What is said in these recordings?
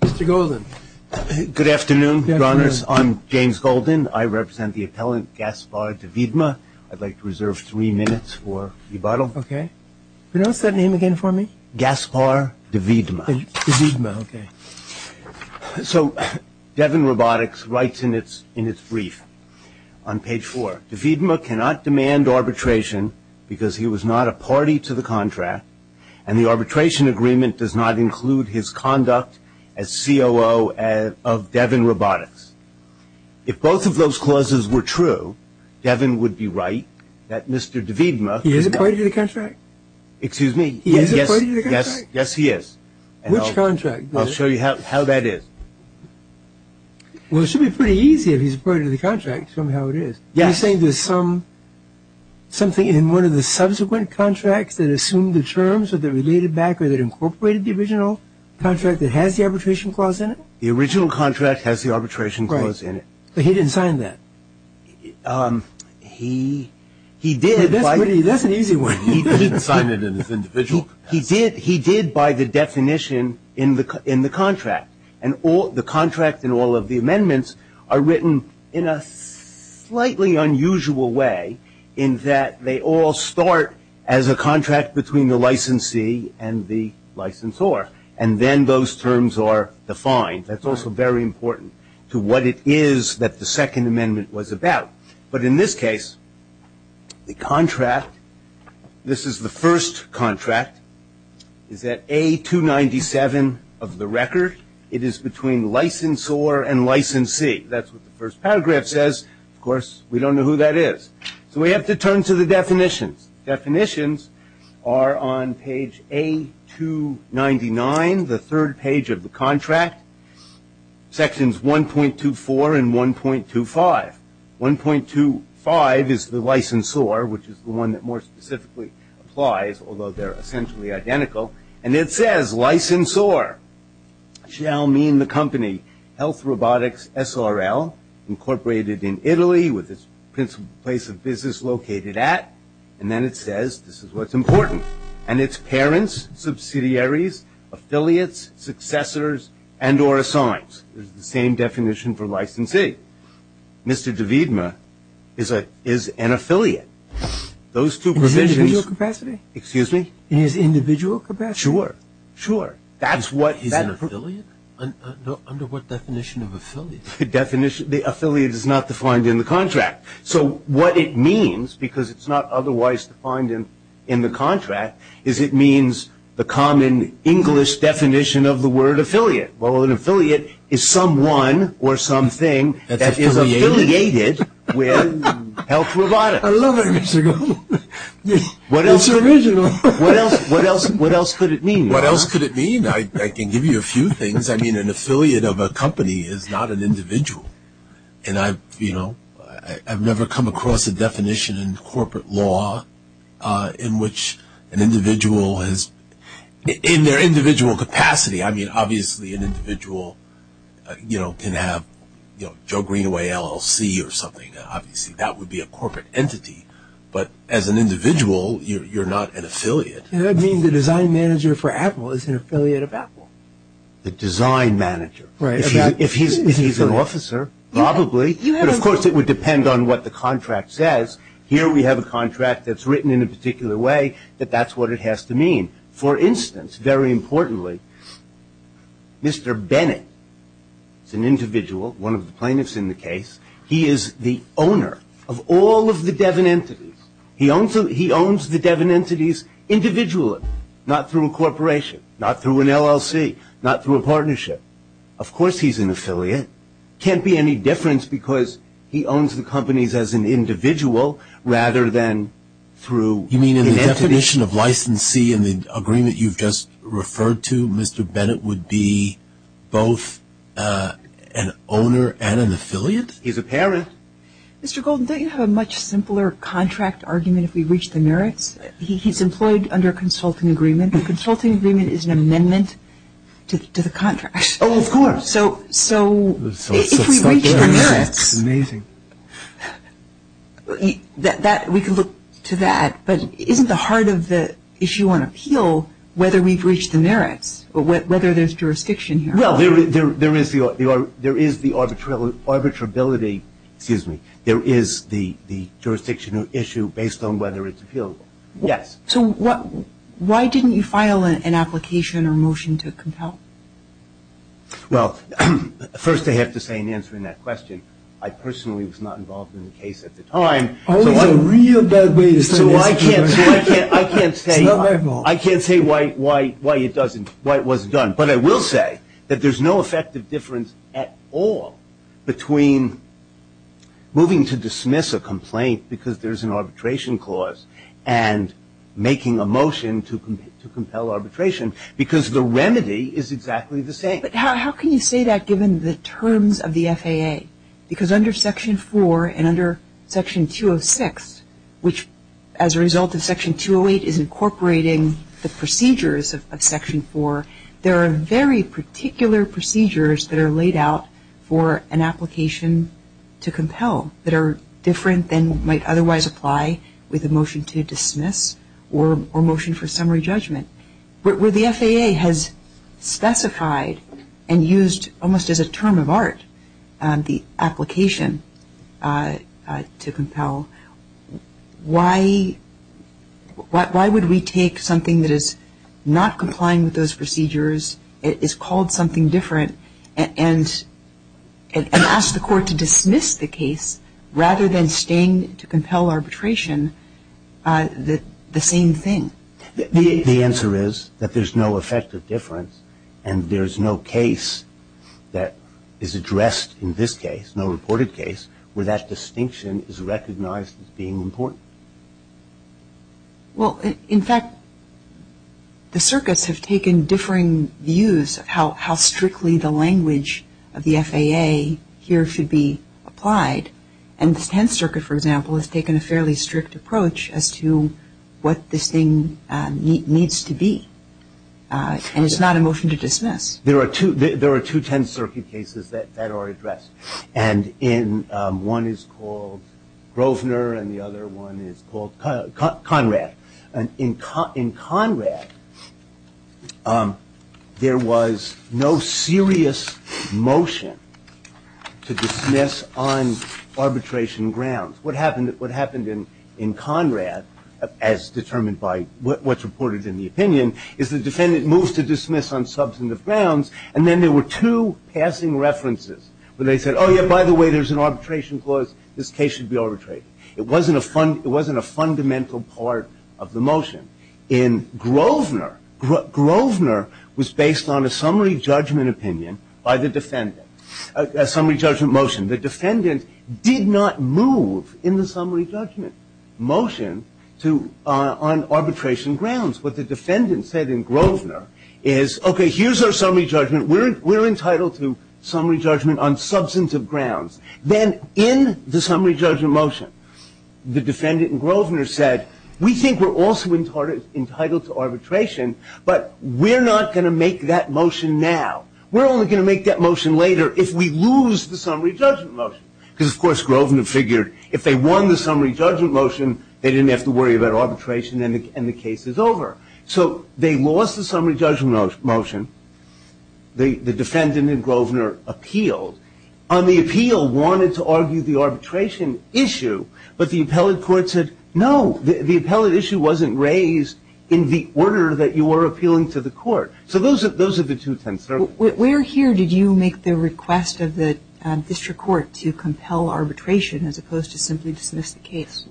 Mr. Golden. Good afternoon, Your Honors. I'm James Golden. I represent the appellant Gaspar Deviedma. I'd like to reserve three minutes for rebuttal. Okay. Pronounce that name again for me. Gaspar Deviedma. Deviedma, okay. So DevonRobotics writes in its brief on page four, Deviedma cannot demand arbitration because he was not a party to the contract and the arbitration agreement does not include his conduct as COO of DevonRobotics. If both of those clauses were true, Devon would be right that Mr. Deviedma. He is a party to the contract? Excuse me. He is a party to the contract? Yes, yes he is. Which contract? I'll show you how that is. Well, it should be pretty easy if he's a party to the contract to show me how it is. Yes. Are you saying there's something in one of the subsequent contracts that assumed the terms or that related back or that incorporated the original contract that has the arbitration clause in it? The original contract has the arbitration clause in it. Right. But he didn't sign that. He did. That's an easy one. He didn't sign it in his individual contract. He did by the definition in the contract. And the contract and all of the amendments are written in a slightly unusual way in that they all start as a contract between the licensee and the licensor. And then those terms are defined. That's also very important to what it is that the second amendment was about. But in this case, the contract, this is the first contract, is at A297 of the record. It is between licensor and licensee. That's what the first paragraph says. Of course, we don't know who that is. So we have to turn to the definitions. Definitions are on page A299, the third page of the contract, sections 1.24 and 1.25. 1.25 is the licensor, which is the one that more specifically applies, although they're essentially identical. And it says licensor shall mean the company Health Robotics SRL, incorporated in Italy with its principal place of business located at, and then it says this is what's important, and its parents, subsidiaries, affiliates, successors, and or assigns. It's the same definition for licensee. Mr. Davidma is an affiliate. Those two provisions. In his individual capacity? Excuse me? In his individual capacity? Sure. Sure. That's what he's an affiliate? Under what definition of affiliate? The affiliate is not defined in the contract. So what it means, because it's not otherwise defined in the contract, is it means the common English definition of the word affiliate. Well, an affiliate is someone or something that is affiliated with Health Robotics. I love it, Mr. Goldman. It's original. What else could it mean? What else could it mean? I can give you a few things. I mean, an affiliate of a company is not an individual, and I've never come across a definition in corporate law in which an individual has, in their individual capacity, I mean, obviously an individual can have Joe Greenaway LLC or something. Obviously, that would be a corporate entity. But as an individual, you're not an affiliate. I mean, the design manager for Apple is an affiliate of Apple. The design manager. Right. If he's an officer, probably. But, of course, it would depend on what the contract says. Here we have a contract that's written in a particular way that that's what it has to mean. For instance, very importantly, Mr. Bennett is an individual, one of the plaintiffs in the case. He is the owner of all of the Devin entities. He owns the Devin entities individually, not through a corporation, not through an LLC, not through a partnership. Of course he's an affiliate. Can't be any difference because he owns the companies as an individual rather than through an entity. The definition of licensee in the agreement you've just referred to, Mr. Bennett, would be both an owner and an affiliate? He's a parent. Mr. Golden, don't you have a much simpler contract argument if we reach the merits? He's employed under a consulting agreement. A consulting agreement is an amendment to the contract. Oh, of course. So if we reach the merits. That's amazing. We can look to that. But isn't the heart of the issue on appeal whether we've reached the merits, whether there's jurisdiction here? Well, there is the arbitrability, excuse me, there is the jurisdiction issue based on whether it's appealable. Yes. So why didn't you file an application or motion to compel? Well, first I have to say in answering that question, I personally was not involved in the case at the time. Always a real bad way to say this. I can't say why it wasn't done. But I will say that there's no effective difference at all between moving to dismiss a complaint because there's an arbitration clause and making a motion to compel arbitration because the remedy is exactly the same. But how can you say that given the terms of the FAA? Because under Section 4 and under Section 206, which as a result of Section 208 is incorporating the procedures of Section 4, there are very particular procedures that are laid out for an application to compel that are different than might otherwise apply with a motion to dismiss or motion for summary judgment. Where the FAA has specified and used almost as a term of art the application to compel, why would we take something that is not complying with those procedures, is called something different, and ask the court to dismiss the case rather than staying to compel arbitration the same thing? The answer is that there's no effective difference and there's no case that is addressed in this case, no reported case, where that distinction is recognized as being important. Well, in fact, the circuits have taken differing views of how strictly the language of the FAA here should be applied. And the Tenth Circuit, for example, has taken a fairly strict approach as to what this thing needs to be. And it's not a motion to dismiss. There are two Tenth Circuit cases that are addressed. And one is called Grosvenor and the other one is called Conrad. And in Conrad, there was no serious motion to dismiss on arbitration grounds. What happened in Conrad, as determined by what's reported in the opinion, is the defendant moves to dismiss on substantive grounds, and then there were two passing references where they said, oh, yeah, by the way, there's an arbitration clause, this case should be arbitrated. It wasn't a fundamental part of the motion. In Grosvenor, Grosvenor was based on a summary judgment motion. The defendant did not move in the summary judgment motion on arbitration grounds. What the defendant said in Grosvenor is, okay, here's our summary judgment. We're entitled to summary judgment on substantive grounds. Then in the summary judgment motion, the defendant in Grosvenor said, we think we're also entitled to arbitration, but we're not going to make that motion now. We're only going to make that motion later if we lose the summary judgment motion. Because, of course, Grosvenor figured if they won the summary judgment motion, they didn't have to worry about arbitration and the case is over. So they lost the summary judgment motion. The defendant in Grosvenor appealed. On the appeal, wanted to argue the arbitration issue, but the appellate court said, no, the appellate issue wasn't raised in the order that you were appealing to the court. So those are the two tents. Where here did you make the request of the district court to compel arbitration as opposed to simply dismiss the case?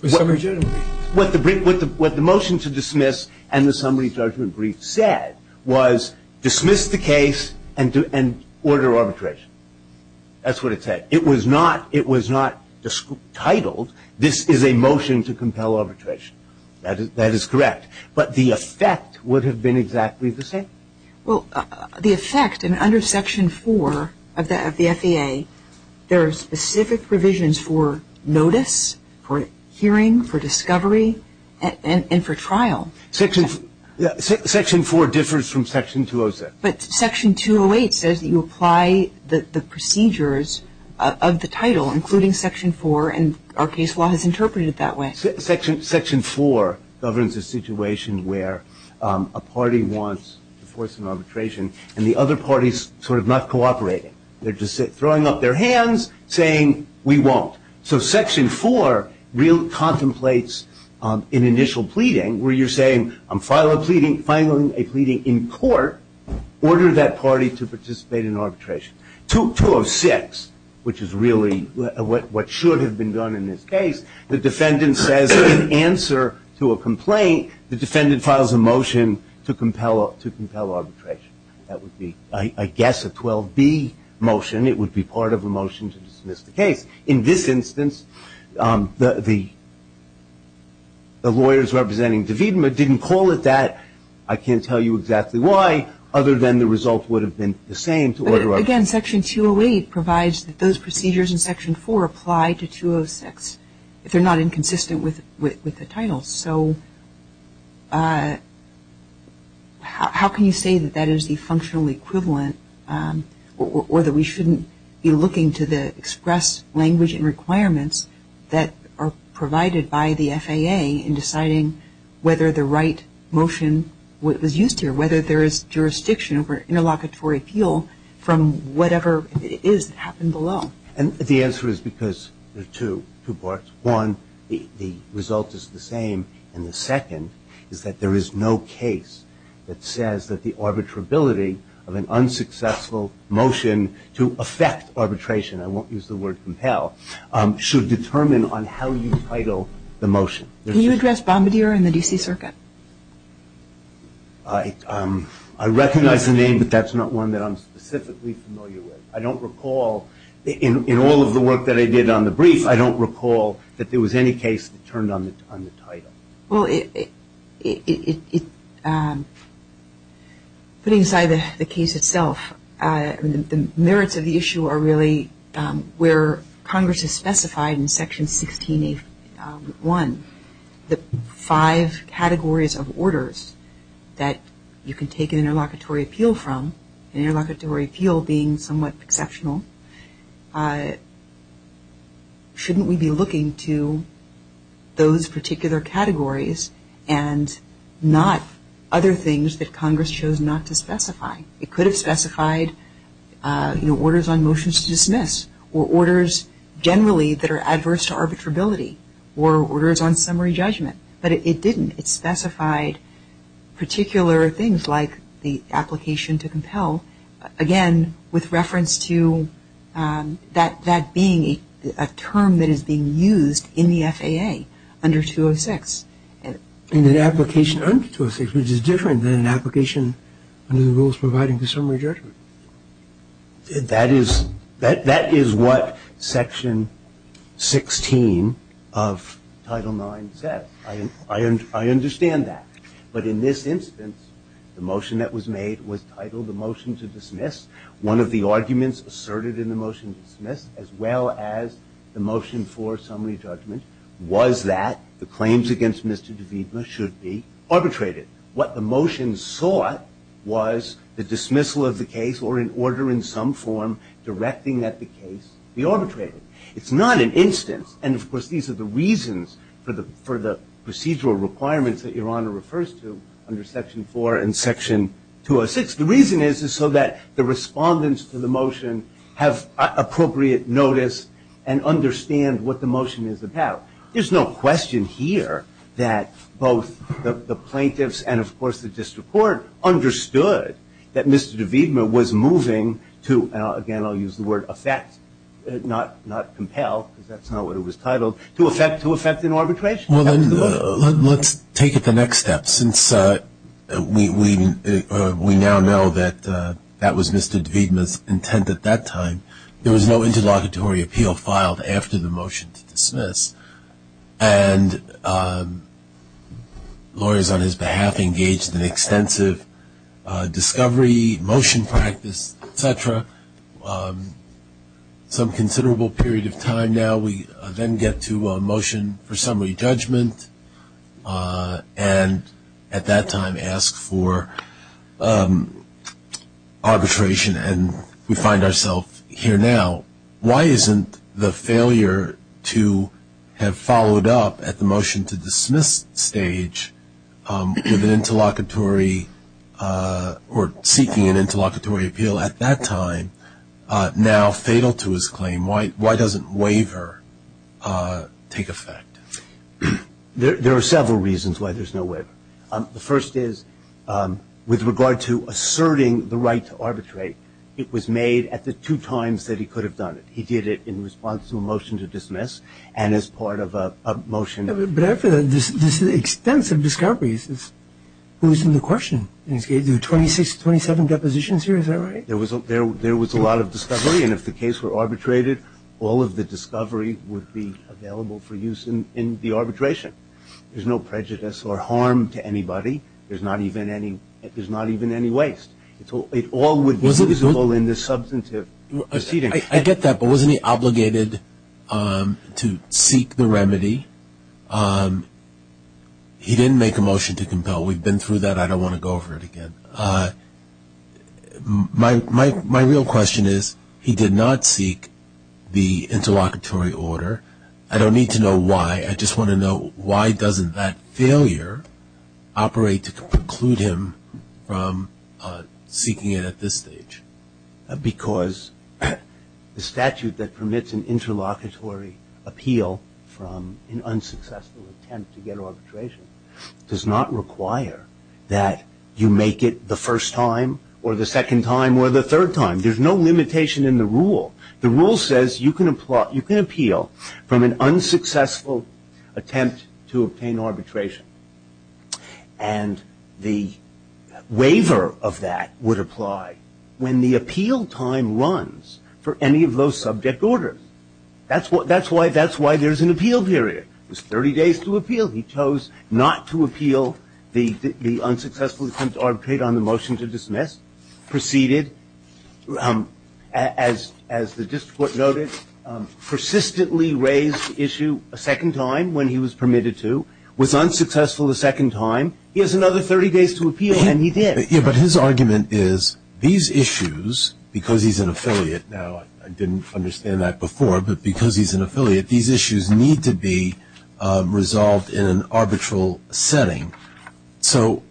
The summary judgment brief. What the motion to dismiss and the summary judgment brief said was, dismiss the case and order arbitration. That's what it said. It was not titled, this is a motion to compel arbitration. That is correct. But the effect would have been exactly the same. Well, the effect, and under Section 4 of the FEA, there are specific provisions for notice, for hearing, for discovery, and for trial. Section 4 differs from Section 206. But Section 208 says that you apply the procedures of the title, including Section 4, and our case law has interpreted it that way. Section 4 governs a situation where a party wants to force an arbitration and the other party is sort of not cooperating. They're just throwing up their hands, saying, we won't. So Section 4 contemplates an initial pleading where you're saying, I'm filing a pleading in court. Order that party to participate in arbitration. 206, which is really what should have been done in this case, the defendant says in answer to a complaint, the defendant files a motion to compel arbitration. That would be, I guess, a 12B motion. It would be part of a motion to dismiss the case. In this instance, the lawyers representing DeVita didn't call it that. I can't tell you exactly why, other than the result would have been the same to order arbitration. Again, Section 208 provides that those procedures in Section 4 apply to 206, if they're not inconsistent with the title. So how can you say that that is the functional equivalent or that we shouldn't be looking to the express language and requirements that are provided by the FAA in deciding whether the right motion was used here, whether there is jurisdiction over interlocutory appeal from whatever it is that happened below? And the answer is because there are two parts. One, the result is the same. And the second is that there is no case that says that the arbitrability of an unsuccessful motion to affect arbitration, I won't use the word compel, should determine on how you title the motion. Can you address Bombardier and the D.C. Circuit? I recognize the name, but that's not one that I'm specifically familiar with. I don't recall in all of the work that I did on the brief, I don't recall that there was any case that turned on the title. Well, putting aside the case itself, the merits of the issue are really where Congress has specified in Section 16A1 the five categories of orders that you can take an interlocutory appeal from, an interlocutory appeal being somewhat exceptional. Shouldn't we be looking to those particular categories and not other things that Congress chose not to specify? It could have specified orders on motions to dismiss or orders generally that are adverse to arbitrability or orders on summary judgment, but it didn't. It specified particular things like the application to compel. Again, with reference to that being a term that is being used in the FAA under 206. An application under 206, which is different than an application under the rules providing for summary judgment. That is what Section 16 of Title IX says. I understand that. But in this instance, the motion that was made was titled the motion to dismiss. One of the arguments asserted in the motion to dismiss, as well as the motion for summary judgment, was that the claims against Mr. Davidma should be arbitrated. What the motion sought was the dismissal of the case or an order in some form directing that the case be arbitrated. It's not an instance, and of course these are the reasons for the procedural requirements that Your Honor refers to under Section 4 and Section 206. The reason is so that the respondents to the motion have appropriate notice and understand what the motion is about. There's no question here that both the plaintiffs and, of course, the district court understood that Mr. Davidma was moving to, again, I'll use the word affect, not compel, because that's not what it was titled, to affect an arbitration. Let's take it the next step. Since we now know that that was Mr. Davidma's intent at that time, there was no interlocutory appeal filed after the motion to dismiss, and lawyers on his behalf engaged in extensive discovery, motion practice, et cetera. Some considerable period of time now we then get to a motion for summary judgment and at that time ask for arbitration, and we find ourselves here now. Why isn't the failure to have followed up at the motion to dismiss stage with an interlocutory or seeking an interlocutory appeal at that time now fatal to his claim? Why doesn't waiver take effect? There are several reasons why there's no waiver. The first is with regard to asserting the right to arbitrate, it was made at the two times that he could have done it. He did it in response to a motion to dismiss and as part of a motion. But after this extensive discovery, who's in the question? There are 26, 27 depositions here. Is that right? There was a lot of discovery, and if the case were arbitrated, all of the discovery would be available for use in the arbitration. There's no prejudice or harm to anybody. There's not even any waste. It all would be visible in this substantive proceeding. I get that, but wasn't he obligated to seek the remedy? He didn't make a motion to compel. We've been through that. I don't want to go over it again. My real question is he did not seek the interlocutory order. I don't need to know why. I just want to know why doesn't that failure operate to preclude him from seeking it at this stage? Because the statute that permits an interlocutory appeal from an unsuccessful attempt to get arbitration does not require that you make it the first time or the second time or the third time. There's no limitation in the rule. The rule says you can appeal from an unsuccessful attempt to obtain arbitration, and the waiver of that would apply when the appeal time runs for any of those subject orders. That's why there's an appeal period. It was 30 days to appeal. He chose not to appeal the unsuccessful attempt to arbitrate on the motion to dismiss, proceeded, as the district court noted, persistently raised the issue a second time when he was permitted to, was unsuccessful a second time. He has another 30 days to appeal, and he did. But his argument is these issues, because he's an affiliate, now I didn't understand that before, but because he's an affiliate, these issues need to be resolved in an arbitral setting. So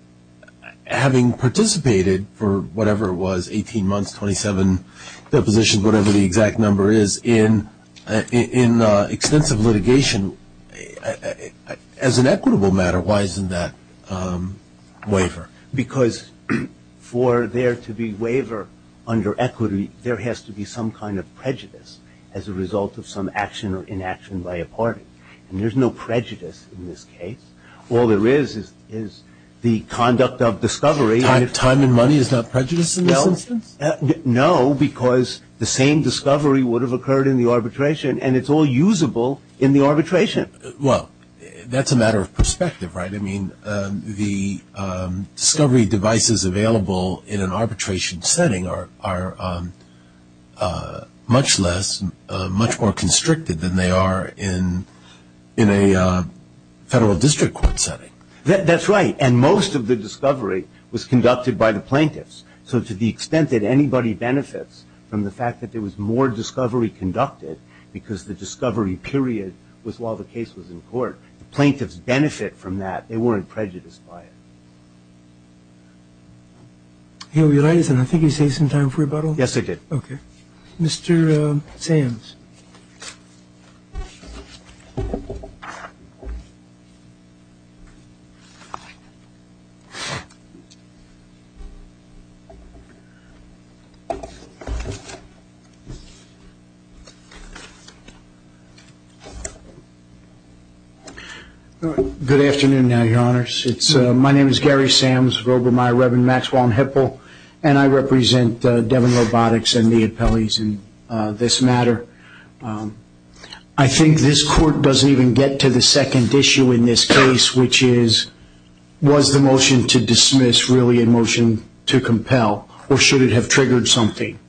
having participated for whatever it was, 18 months, 27 positions, whatever the exact number is, in extensive litigation, as an equitable matter, why isn't that waiver? Because for there to be waiver under equity, there has to be some kind of prejudice as a result of some action or inaction by a party. And there's no prejudice in this case. All there is is the conduct of discovery. Time and money is not prejudice in this instance? No, because the same discovery would have occurred in the arbitration, and it's all usable in the arbitration. Well, that's a matter of perspective, right? I mean, the discovery devices available in an arbitration setting are much less, much more constricted than they are in a federal district court setting. That's right. And most of the discovery was conducted by the plaintiffs. So to the extent that anybody benefits from the fact that there was more discovery conducted, because the discovery period was while the case was in court, the plaintiffs benefit from that. They weren't prejudiced by it. I think we saved some time for rebuttal. Yes, I did. Okay. Mr. Sams. Good afternoon, Your Honors. My name is Gary Sams, Grobermeyer, Reverend Maxwell and Hippel, and I represent Devon Robotics and the appellees in this matter. I think this court doesn't even get to the second issue in this case, which is was the motion to dismiss really a motion to compel, or should it have triggered something?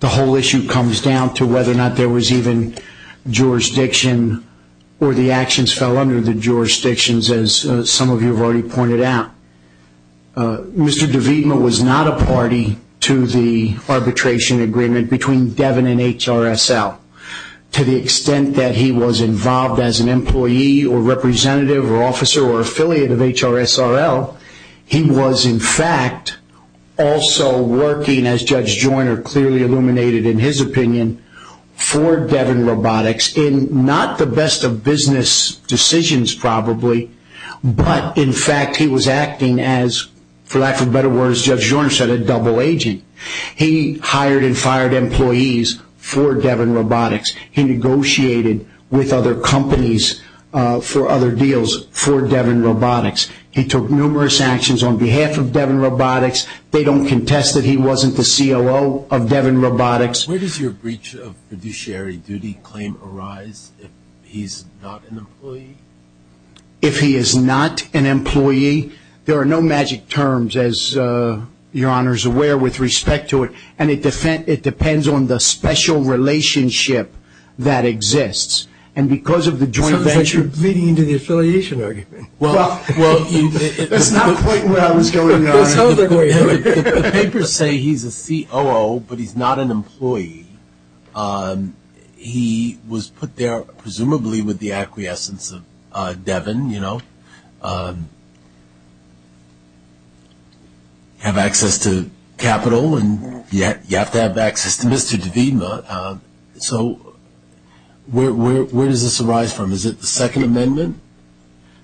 The whole issue comes down to whether or not there was even jurisdiction or the actions fell under the jurisdictions, as some of you have already pointed out. Mr. DeVita was not a party to the arbitration agreement between Devon and HRSL. To the extent that he was involved as an employee or representative or officer or affiliate of HRSRL, he was, in fact, also working, as Judge Joyner clearly illuminated in his opinion, for Devon Robotics in not the best of business decisions probably, but in fact he was acting as, for lack of better words, Judge Joyner said, a double agent. He hired and fired employees for Devon Robotics. He negotiated with other companies for other deals for Devon Robotics. He took numerous actions on behalf of Devon Robotics. They don't contest that he wasn't the COO of Devon Robotics. Where does your breach of fiduciary duty claim arise if he's not an employee? If he is not an employee, there are no magic terms, as Your Honor is aware, with respect to it, and it depends on the special relationship that exists. And because of the joint venture – Sounds like you're bleeding into the affiliation argument. Well, it's not quite what I was going on. The papers say he's a COO, but he's not an employee. He was put there presumably with the acquiescence of Devon, you know, have access to capital, and you have to have access to Mr. DeVima. So where does this arise from? Is it the Second Amendment?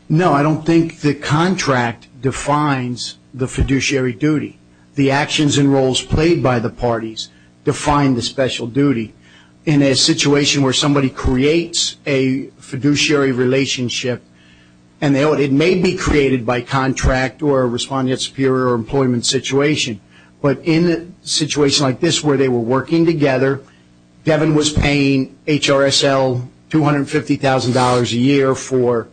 No, I don't think the contract defines the fiduciary duty. The actions and roles played by the parties define the special duty. In a situation where somebody creates a fiduciary relationship, and it may be created by contract or a respondent superior employment situation, but in a situation like this where they were working together, Devon was paying HRSL $250,000 a year for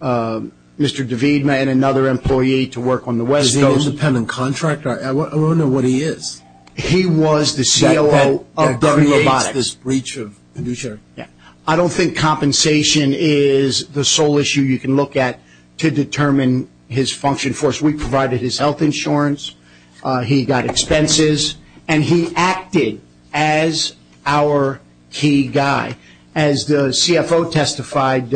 Mr. DeVima and another employee to work on the West Coast. Is he an independent contractor? I want to know what he is. He was the COO of W8s. That creates this breach of fiduciary. Yeah. I don't think compensation is the sole issue you can look at to determine his function for us. We provided his health insurance. He got expenses. And he acted as our key guy. As the CFO testified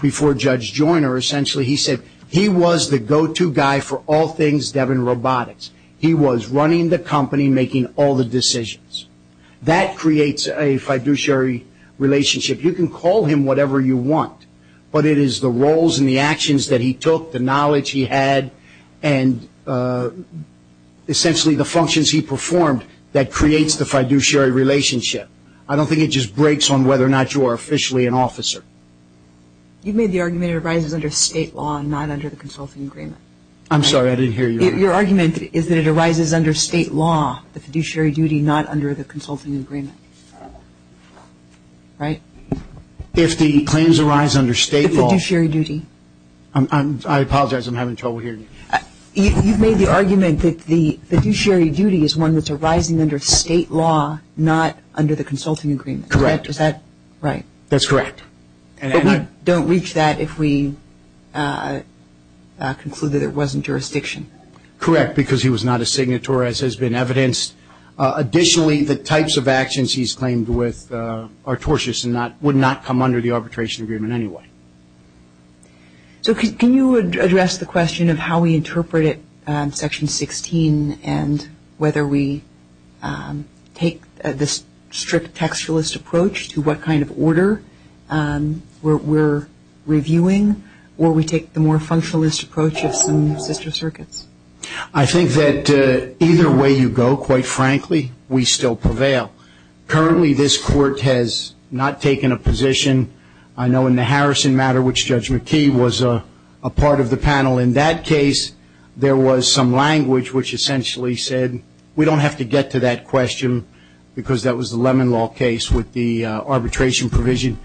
before Judge Joyner, essentially, he said, he was the go-to guy for all things Devon Robotics. He was running the company, making all the decisions. That creates a fiduciary relationship. You can call him whatever you want, but it is the roles and the actions that he took, the knowledge he had, and essentially, the functions he performed that creates the fiduciary relationship. I don't think it just breaks on whether or not you are officially an officer. You made the argument it arises under state law and not under the consulting agreement. I'm sorry, I didn't hear you. Your argument is that it arises under state law, the fiduciary duty, not under the consulting agreement. Right? If the claims arise under state law. The fiduciary duty. I apologize, I'm having trouble hearing you. You made the argument that the fiduciary duty is one that's arising under state law, not under the consulting agreement. Correct. Is that right? That's correct. But we don't reach that if we conclude that it wasn't jurisdiction. Correct, because he was not a signator as has been evidenced. Additionally, the types of actions he's claimed with are tortious and would not come under the arbitration agreement anyway. So can you address the question of how we interpret it, Section 16, and whether we take the strict textualist approach to what kind of order we're reviewing, or we take the more functionalist approach of some sister circuits? I think that either way you go, quite frankly, we still prevail. Currently this court has not taken a position. I know in the Harrison matter, which Judge McKee was a part of the panel in that case, there was some language which essentially said we don't have to get to that question because that was the Lemon Law case with the arbitration provision.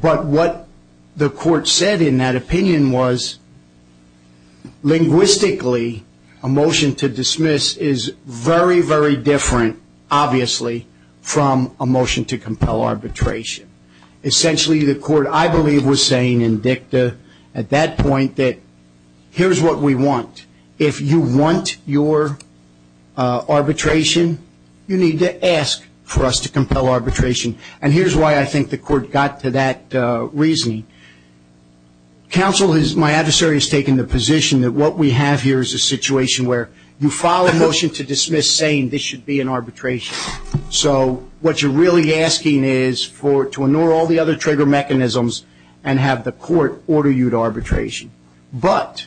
But what the court said in that opinion was linguistically a motion to dismiss is very, very different, obviously, from a motion to compel arbitration. Essentially the court, I believe, was saying in dicta at that point that here's what we want. If you want your arbitration, you need to ask for us to compel arbitration. And here's why I think the court got to that reasoning. Counsel, my adversary, has taken the position that what we have here is a situation where you file a motion to dismiss saying this should be an arbitration. So what you're really asking is to ignore all the other trigger mechanisms and have the court order you to arbitration. But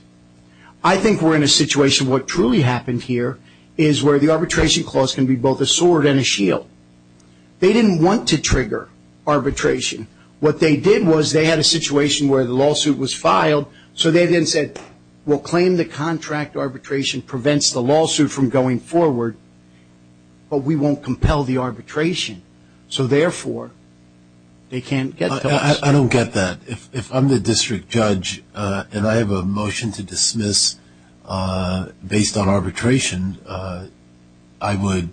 I think we're in a situation, what truly happened here, is where the arbitration clause can be both a sword and a shield. They didn't want to trigger arbitration. What they did was they had a situation where the lawsuit was filed, so they then said, we'll claim the contract arbitration prevents the lawsuit from going forward, but we won't compel the arbitration. So, therefore, they can't get to us. I don't get that. If I'm the district judge and I have a motion to dismiss based on arbitration, I would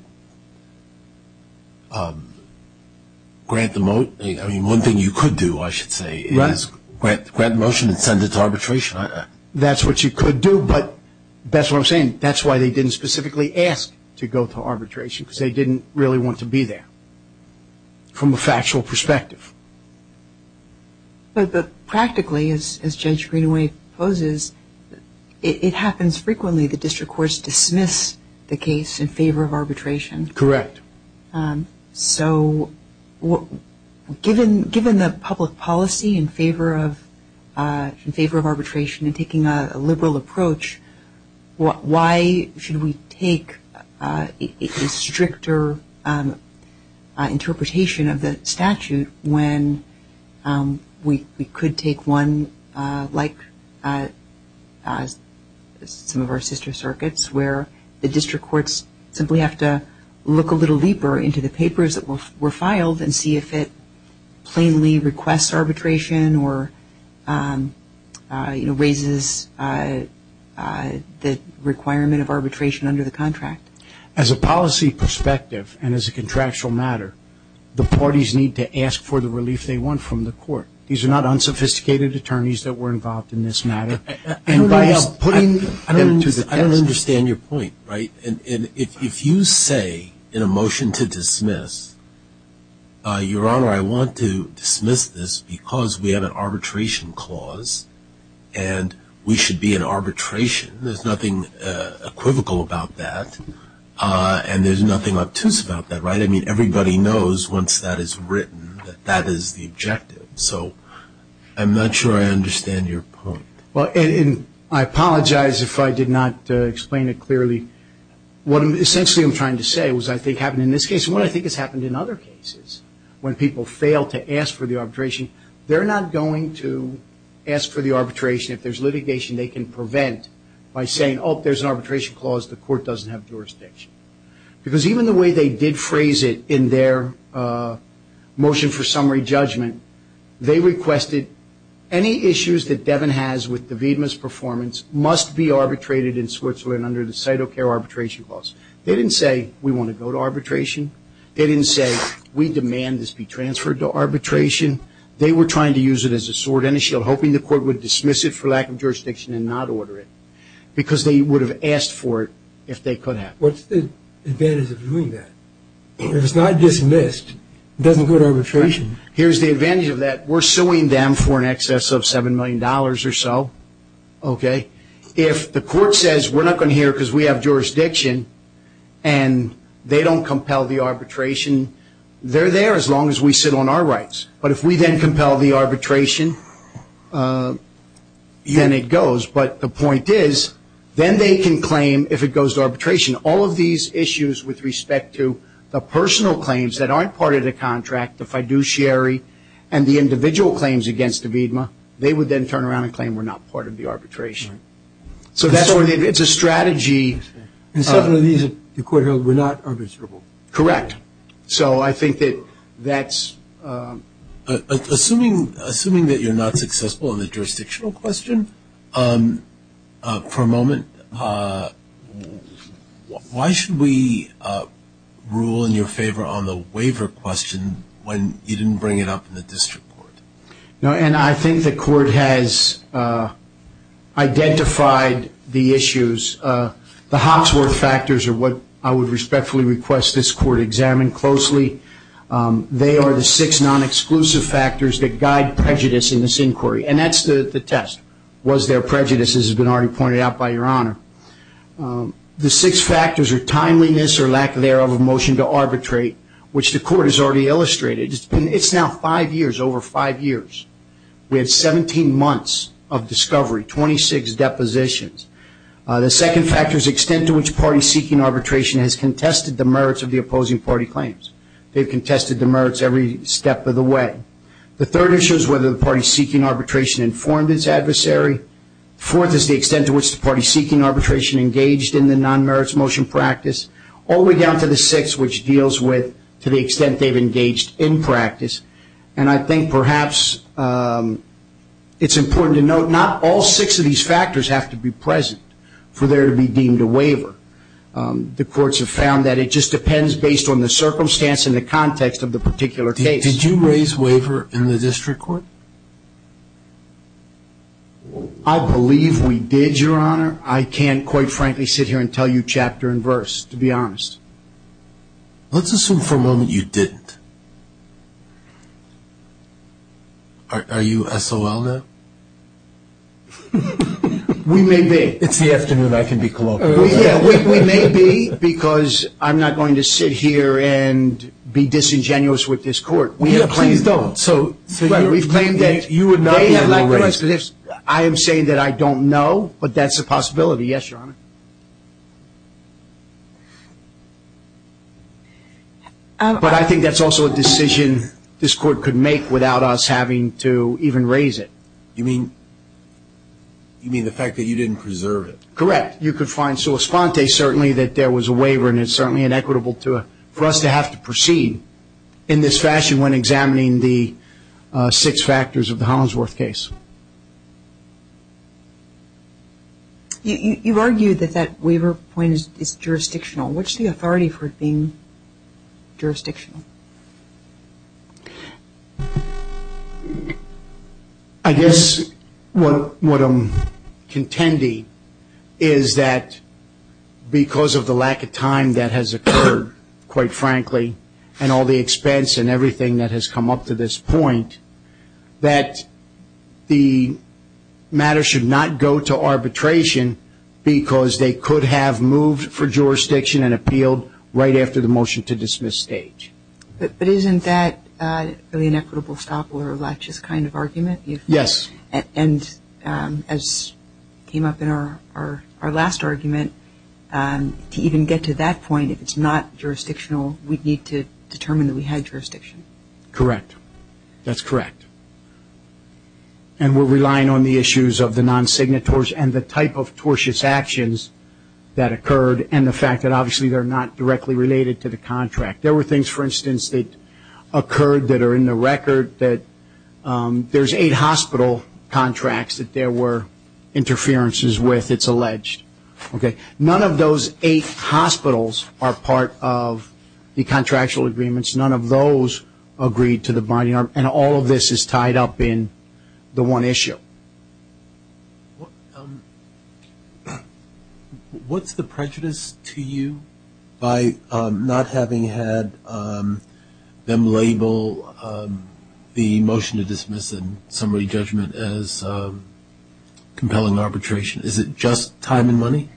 grant the motion. I mean, one thing you could do, I should say, is grant the motion and send it to arbitration. That's what you could do, but that's what I'm saying. That's why they didn't specifically ask to go to arbitration, because they didn't really want to be there from a factual perspective. But practically, as Judge Greenaway poses, it happens frequently the district courts dismiss the case in favor of arbitration. Correct. So, given the public policy in favor of arbitration and taking a liberal approach, why should we take a stricter interpretation of the statute when we could take one like some of our sister circuits where the district courts simply have to look a little deeper into the papers that were filed and see if it plainly requests arbitration or raises the requirement of arbitration under the contract? As a policy perspective and as a contractual matter, the parties need to ask for the relief they want from the court. These are not unsophisticated attorneys that were involved in this matter. I don't understand your point. If you say in a motion to dismiss, Your Honor, I want to dismiss this because we have an arbitration clause and we should be in arbitration. There's nothing equivocal about that, and there's nothing obtuse about that. I mean, everybody knows once that is written that that is the objective. So, I'm not sure I understand your point. Well, and I apologize if I did not explain it clearly. What essentially I'm trying to say was I think happened in this case and what I think has happened in other cases when people fail to ask for the arbitration, they're not going to ask for the arbitration if there's litigation they can prevent by saying, oh, there's an arbitration clause, the court doesn't have jurisdiction. Because even the way they did phrase it in their motion for summary judgment, they requested any issues that Devin has with Davida's performance must be arbitrated in Switzerland under the CITO CARE arbitration clause. They didn't say we want to go to arbitration. They didn't say we demand this be transferred to arbitration. They were trying to use it as a sword and a shield, hoping the court would dismiss it for lack of jurisdiction and not order it because they would have asked for it if they could have. What's the advantage of doing that? If it's not dismissed, it doesn't go to arbitration. Here's the advantage of that. We're suing them for an excess of $7 million or so. If the court says we're not going to hear it because we have jurisdiction and they don't compel the arbitration, they're there as long as we sit on our rights. But if we then compel the arbitration, then it goes. But the point is, then they can claim, if it goes to arbitration, all of these issues with respect to the personal claims that aren't part of the contract, the fiduciary, and the individual claims against Davida, they would then turn around and claim we're not part of the arbitration. So it's a strategy. And some of these, the court held, were not arbitrable. Correct. So I think that that's... Assuming that you're not successful in the jurisdictional question, for a moment, why should we rule in your favor on the waiver question when you didn't bring it up in the district court? I think the court has identified the issues. The Hawksworth factors are what I would respectfully request this court examine closely. They are the six non-exclusive factors that guide prejudice in this inquiry. And that's the test, was there prejudice, as has been already pointed out by Your Honor. The six factors are timeliness or lack thereof of motion to arbitrate, which the court has already illustrated. It's now five years, over five years. We had 17 months of discovery, 26 depositions. The second factor is extent to which party-seeking arbitration has contested the merits of the opposing party claims. They've contested the merits every step of the way. The third issue is whether the party-seeking arbitration informed its adversary. Fourth is the extent to which the party-seeking arbitration engaged in the non-merits motion practice. All the way down to the sixth, which deals with to the extent they've engaged in practice. And I think perhaps it's important to note not all six of these factors have to be present for there to be deemed a waiver. The courts have found that it just depends based on the circumstance and the context of the particular case. Did you raise waiver in the district court? I believe we did, Your Honor. I can't quite frankly sit here and tell you chapter and verse, to be honest. Let's assume for a moment you didn't. Are you SOL now? We may be. It's the afternoon. I can be colloquial. We may be because I'm not going to sit here and be disingenuous with this court. Please don't. We've claimed that they have not raised it. I am saying that I don't know, but that's a possibility. Yes, Your Honor. But I think that's also a decision this court could make without us having to even raise it. You mean the fact that you didn't preserve it? Correct. You could find sua sponte, certainly, that there was a waiver, and it's certainly inequitable for us to have to proceed in this fashion when examining the six factors of the Hollingsworth case. You've argued that that waiver point is jurisdictional. What's the authority for it being jurisdictional? I guess what I'm contending is that because of the lack of time that has occurred, quite frankly, and all the expense and everything that has come up to this point, that the matter should not go to arbitration because they could have moved for jurisdiction and appealed right after the motion to dismiss stage. But isn't that really an equitable stop or a laches kind of argument? Yes. And as came up in our last argument, to even get to that point, if it's not jurisdictional, we'd need to determine that we had jurisdiction. Correct. That's correct. And we're relying on the issues of the non-signatories and the type of tortious actions that occurred and the fact that obviously they're not directly related to the contract. There were things, for instance, that occurred that are in the record that there's eight hospital contracts that there were interferences with, it's alleged. None of those eight hospitals are part of the contractual agreements. None of those agreed to the binding. And all of this is tied up in the one issue. What's the prejudice to you by not having had them label the motion to dismiss and summary judgment as compelling arbitration? Is it just time and money?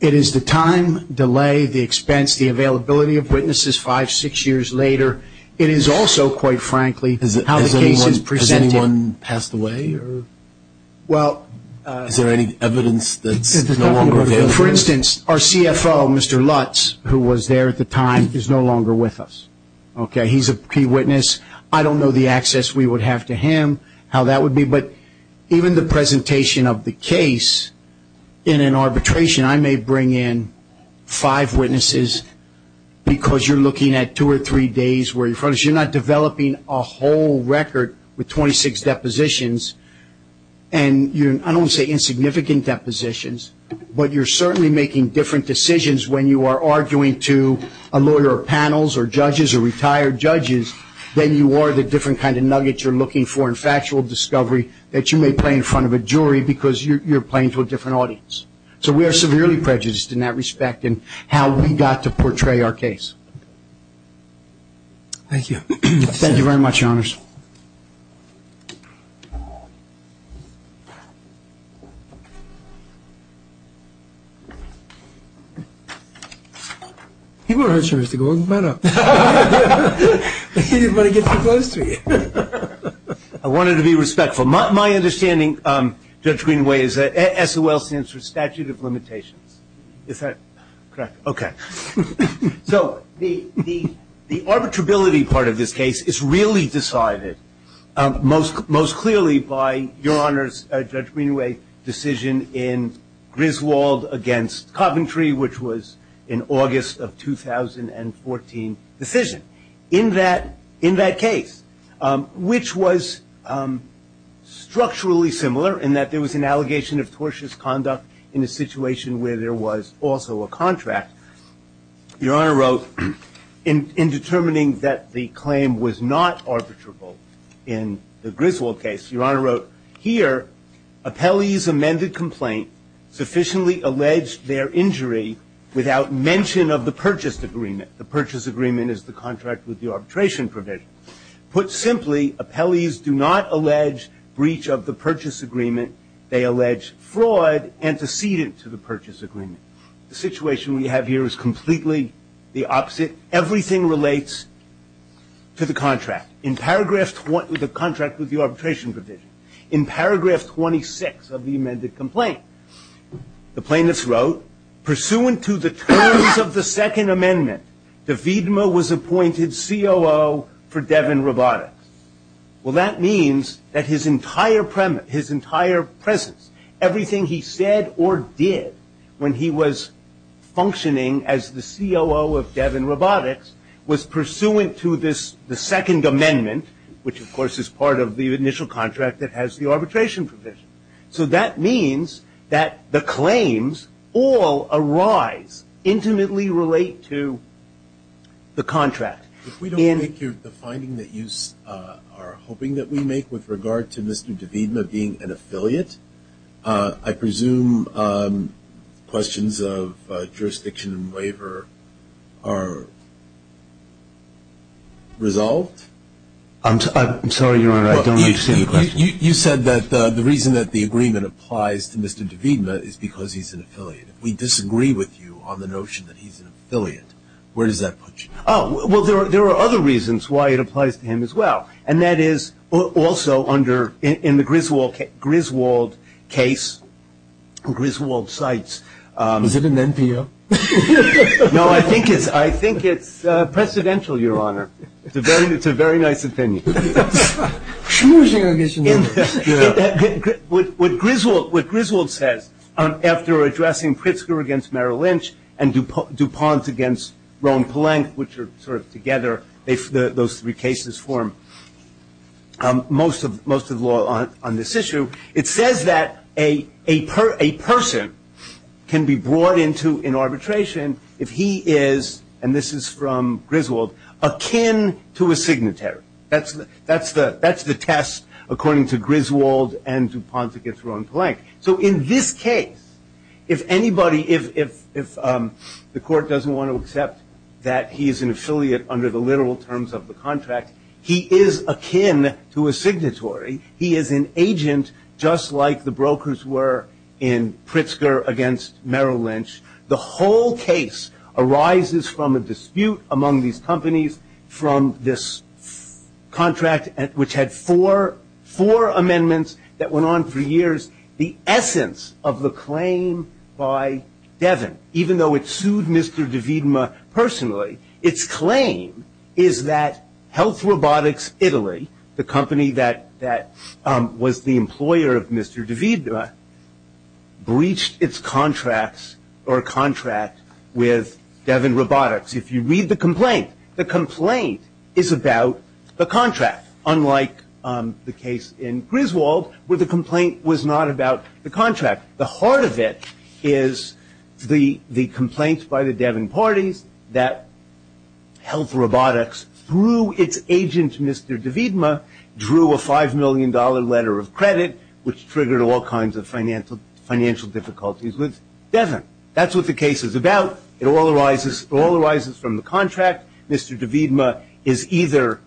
It is the time, delay, the expense, the availability of witnesses five, six years later. It is also, quite frankly, how the case is presented. Has anyone passed away? Is there any evidence that's no longer available? For instance, our CFO, Mr. Lutz, who was there at the time, is no longer with us. He's a key witness. I don't know the access we would have to him, how that would be. But even the presentation of the case in an arbitration, I may bring in five witnesses because you're looking at two or three days where you're not developing a whole record with 26 depositions. And I don't want to say insignificant depositions, but you're certainly making different decisions when you are arguing to a lawyer or panels or judges or retired judges than you are the different kind of nuggets you're looking for in factual discovery that you may play in front of a jury because you're playing to a different audience. So we are severely prejudiced in that respect in how we got to portray our case. Thank you. Thank you very much, Your Honors. I wanted to be respectful. My understanding, Judge Greenway, is that SOL stands for statute of limitations. Is that correct? Okay. So the arbitrability part of this case is really decided by the judge. The judge is the judge. The judge is the judge. Most clearly by Your Honors, Judge Greenway's decision in Griswold against Coventry, which was an August of 2014 decision. In that case, which was structurally similar in that there was an allegation of tortuous conduct in a situation where there was also a contract, Your Honor wrote, in determining that the claim was not arbitrable in the Griswold case, Your Honor wrote, Here, appellees' amended complaint sufficiently alleged their injury without mention of the purchase agreement. The purchase agreement is the contract with the arbitration provision. Put simply, appellees do not allege breach of the purchase agreement. They allege fraud antecedent to the purchase agreement. The situation we have here is completely the opposite. Everything relates to the contract. In paragraph, the contract with the arbitration provision. In paragraph 26 of the amended complaint, the plaintiffs wrote, Pursuant to the terms of the Second Amendment, DeVita was appointed COO for Devin Robotics. Well, that means that his entire presence, everything he said or did, when he was functioning as the COO of Devin Robotics, was pursuant to the Second Amendment, which, of course, is part of the initial contract that has the arbitration provision. So that means that the claims all arise, intimately relate to the contract. If we don't make the finding that you are hoping that we make with regard to Mr. DeVita being an affiliate, I presume questions of jurisdiction and waiver are resolved? I'm sorry, Your Honor, I don't understand the question. You said that the reason that the agreement applies to Mr. DeVita is because he's an affiliate. If we disagree with you on the notion that he's an affiliate, where does that put you? Oh, well, there are other reasons why it applies to him as well, and that is also in the Griswold case, Griswold sites. Is it an NPO? No, I think it's presidential, Your Honor. It's a very nice opinion. What Griswold says after addressing Pritzker against Merrill Lynch and DuPont against Roe and Polank, which are sort of together, those three cases form most of the law on this issue, it says that a person can be brought into an arbitration if he is, and this is from Griswold, akin to a signatory. That's the test according to Griswold and DuPont against Roe and Polank. So in this case, if anybody, if the court doesn't want to accept that he is an affiliate under the literal terms of the contract, he is akin to a signatory. He is an agent, just like the brokers were in Pritzker against Merrill Lynch. The whole case arises from a dispute among these companies from this contract, which had four amendments that went on for years. The essence of the claim by Devin, even though it sued Mr. Davidma personally, its claim is that Health Robotics Italy, the company that was the employer of Mr. Davidma, breached its contracts or contract with Devin Robotics. If you read the complaint, the complaint is about the contract, unlike the case in Griswold where the complaint was not about the contract. The heart of it is the complaint by the Devin parties that Health Robotics, through its agent Mr. Davidma, drew a $5 million letter of credit, which triggered all kinds of financial difficulties with Devin. That's what the case is about. It all arises from the contract. Mr. Davidma is either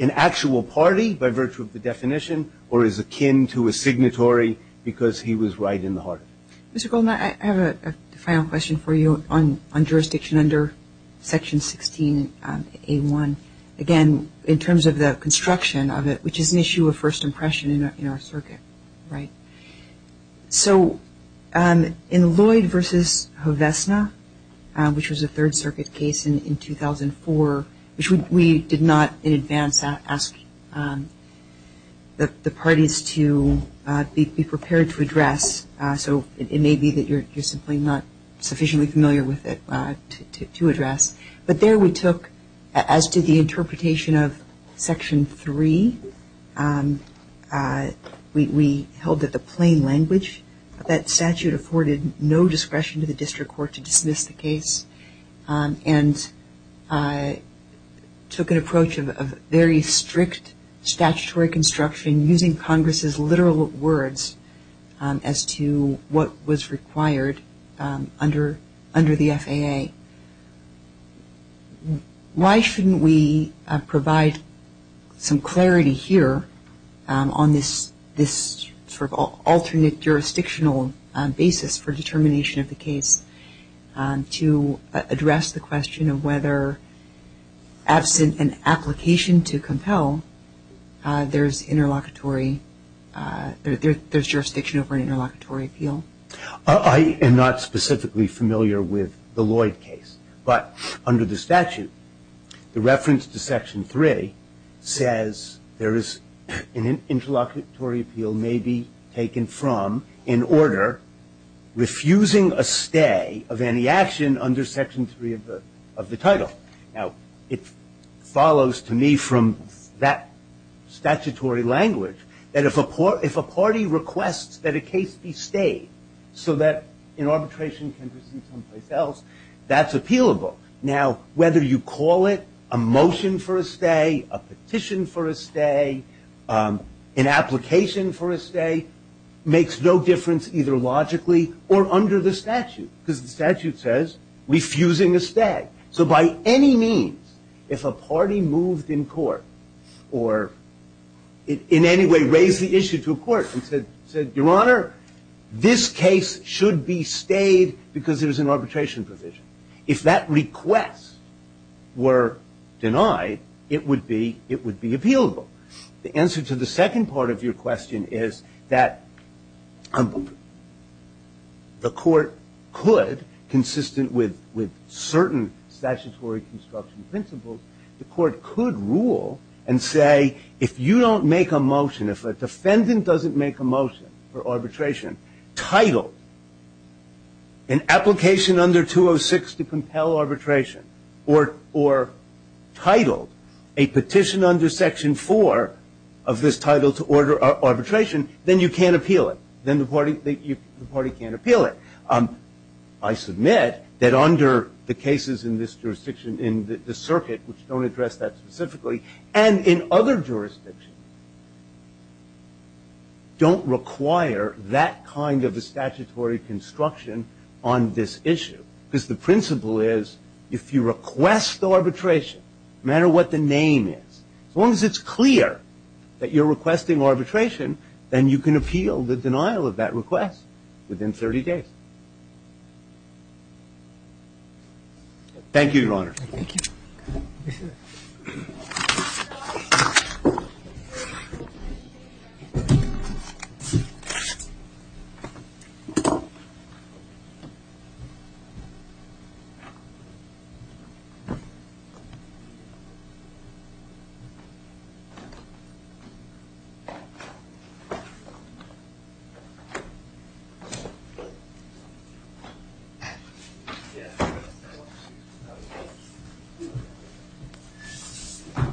an actual party by virtue of the definition or is akin to a signatory because he was right in the heart of it. Mr. Goldman, I have a final question for you on jurisdiction under Section 16A1. Again, in terms of the construction of it, which is an issue of first impression in our circuit, right? So in Lloyd v. Hovesna, which was a Third Circuit case in 2004, which we did not in advance ask the parties to be prepared to address, so it may be that you're simply not sufficiently familiar with it to address, but there we took, as did the interpretation of Section 3, we held it the plain language. That statute afforded no discretion to the district court to dismiss the case and took an approach of very strict statutory construction using Congress's literal words as to what was required under the FAA. Why shouldn't we provide some clarity here on this sort of alternate jurisdictional basis for determination of the case to address the question of whether absent an application to compel, there's jurisdiction over an interlocutory appeal? I am not specifically familiar with the Lloyd case, but under the statute the reference to Section 3 says there is an interlocutory appeal may be taken from in order refusing a stay of any action under Section 3 of the title. Now, it follows to me from that statutory language that if a party requests that a case be stayed so that an arbitration can proceed someplace else, that's appealable. Now, whether you call it a motion for a stay, a petition for a stay, an application for a stay, makes no difference either logically or under the statute because the statute says refusing a stay. So by any means, if a party moved in court or in any way raised the issue to a court and said, Your Honor, this case should be stayed because there's an arbitration provision. If that request were denied, it would be appealable. The answer to the second part of your question is that the court could, consistent with certain statutory construction principles, the court could rule and say if you don't make a motion, if a defendant doesn't make a motion for arbitration titled an application under 206 to compel arbitration or titled a petition under Section 4 of this title to order arbitration, then you can't appeal it. Then the party can't appeal it. I submit that under the cases in this jurisdiction in the circuit, which don't address that specifically, and in other jurisdictions, don't require that kind of a statutory construction on this issue because the principle is if you request arbitration, no matter what the name is, as long as it's clear that you're requesting arbitration, then you can appeal the denial of that request within 30 days. Thank you.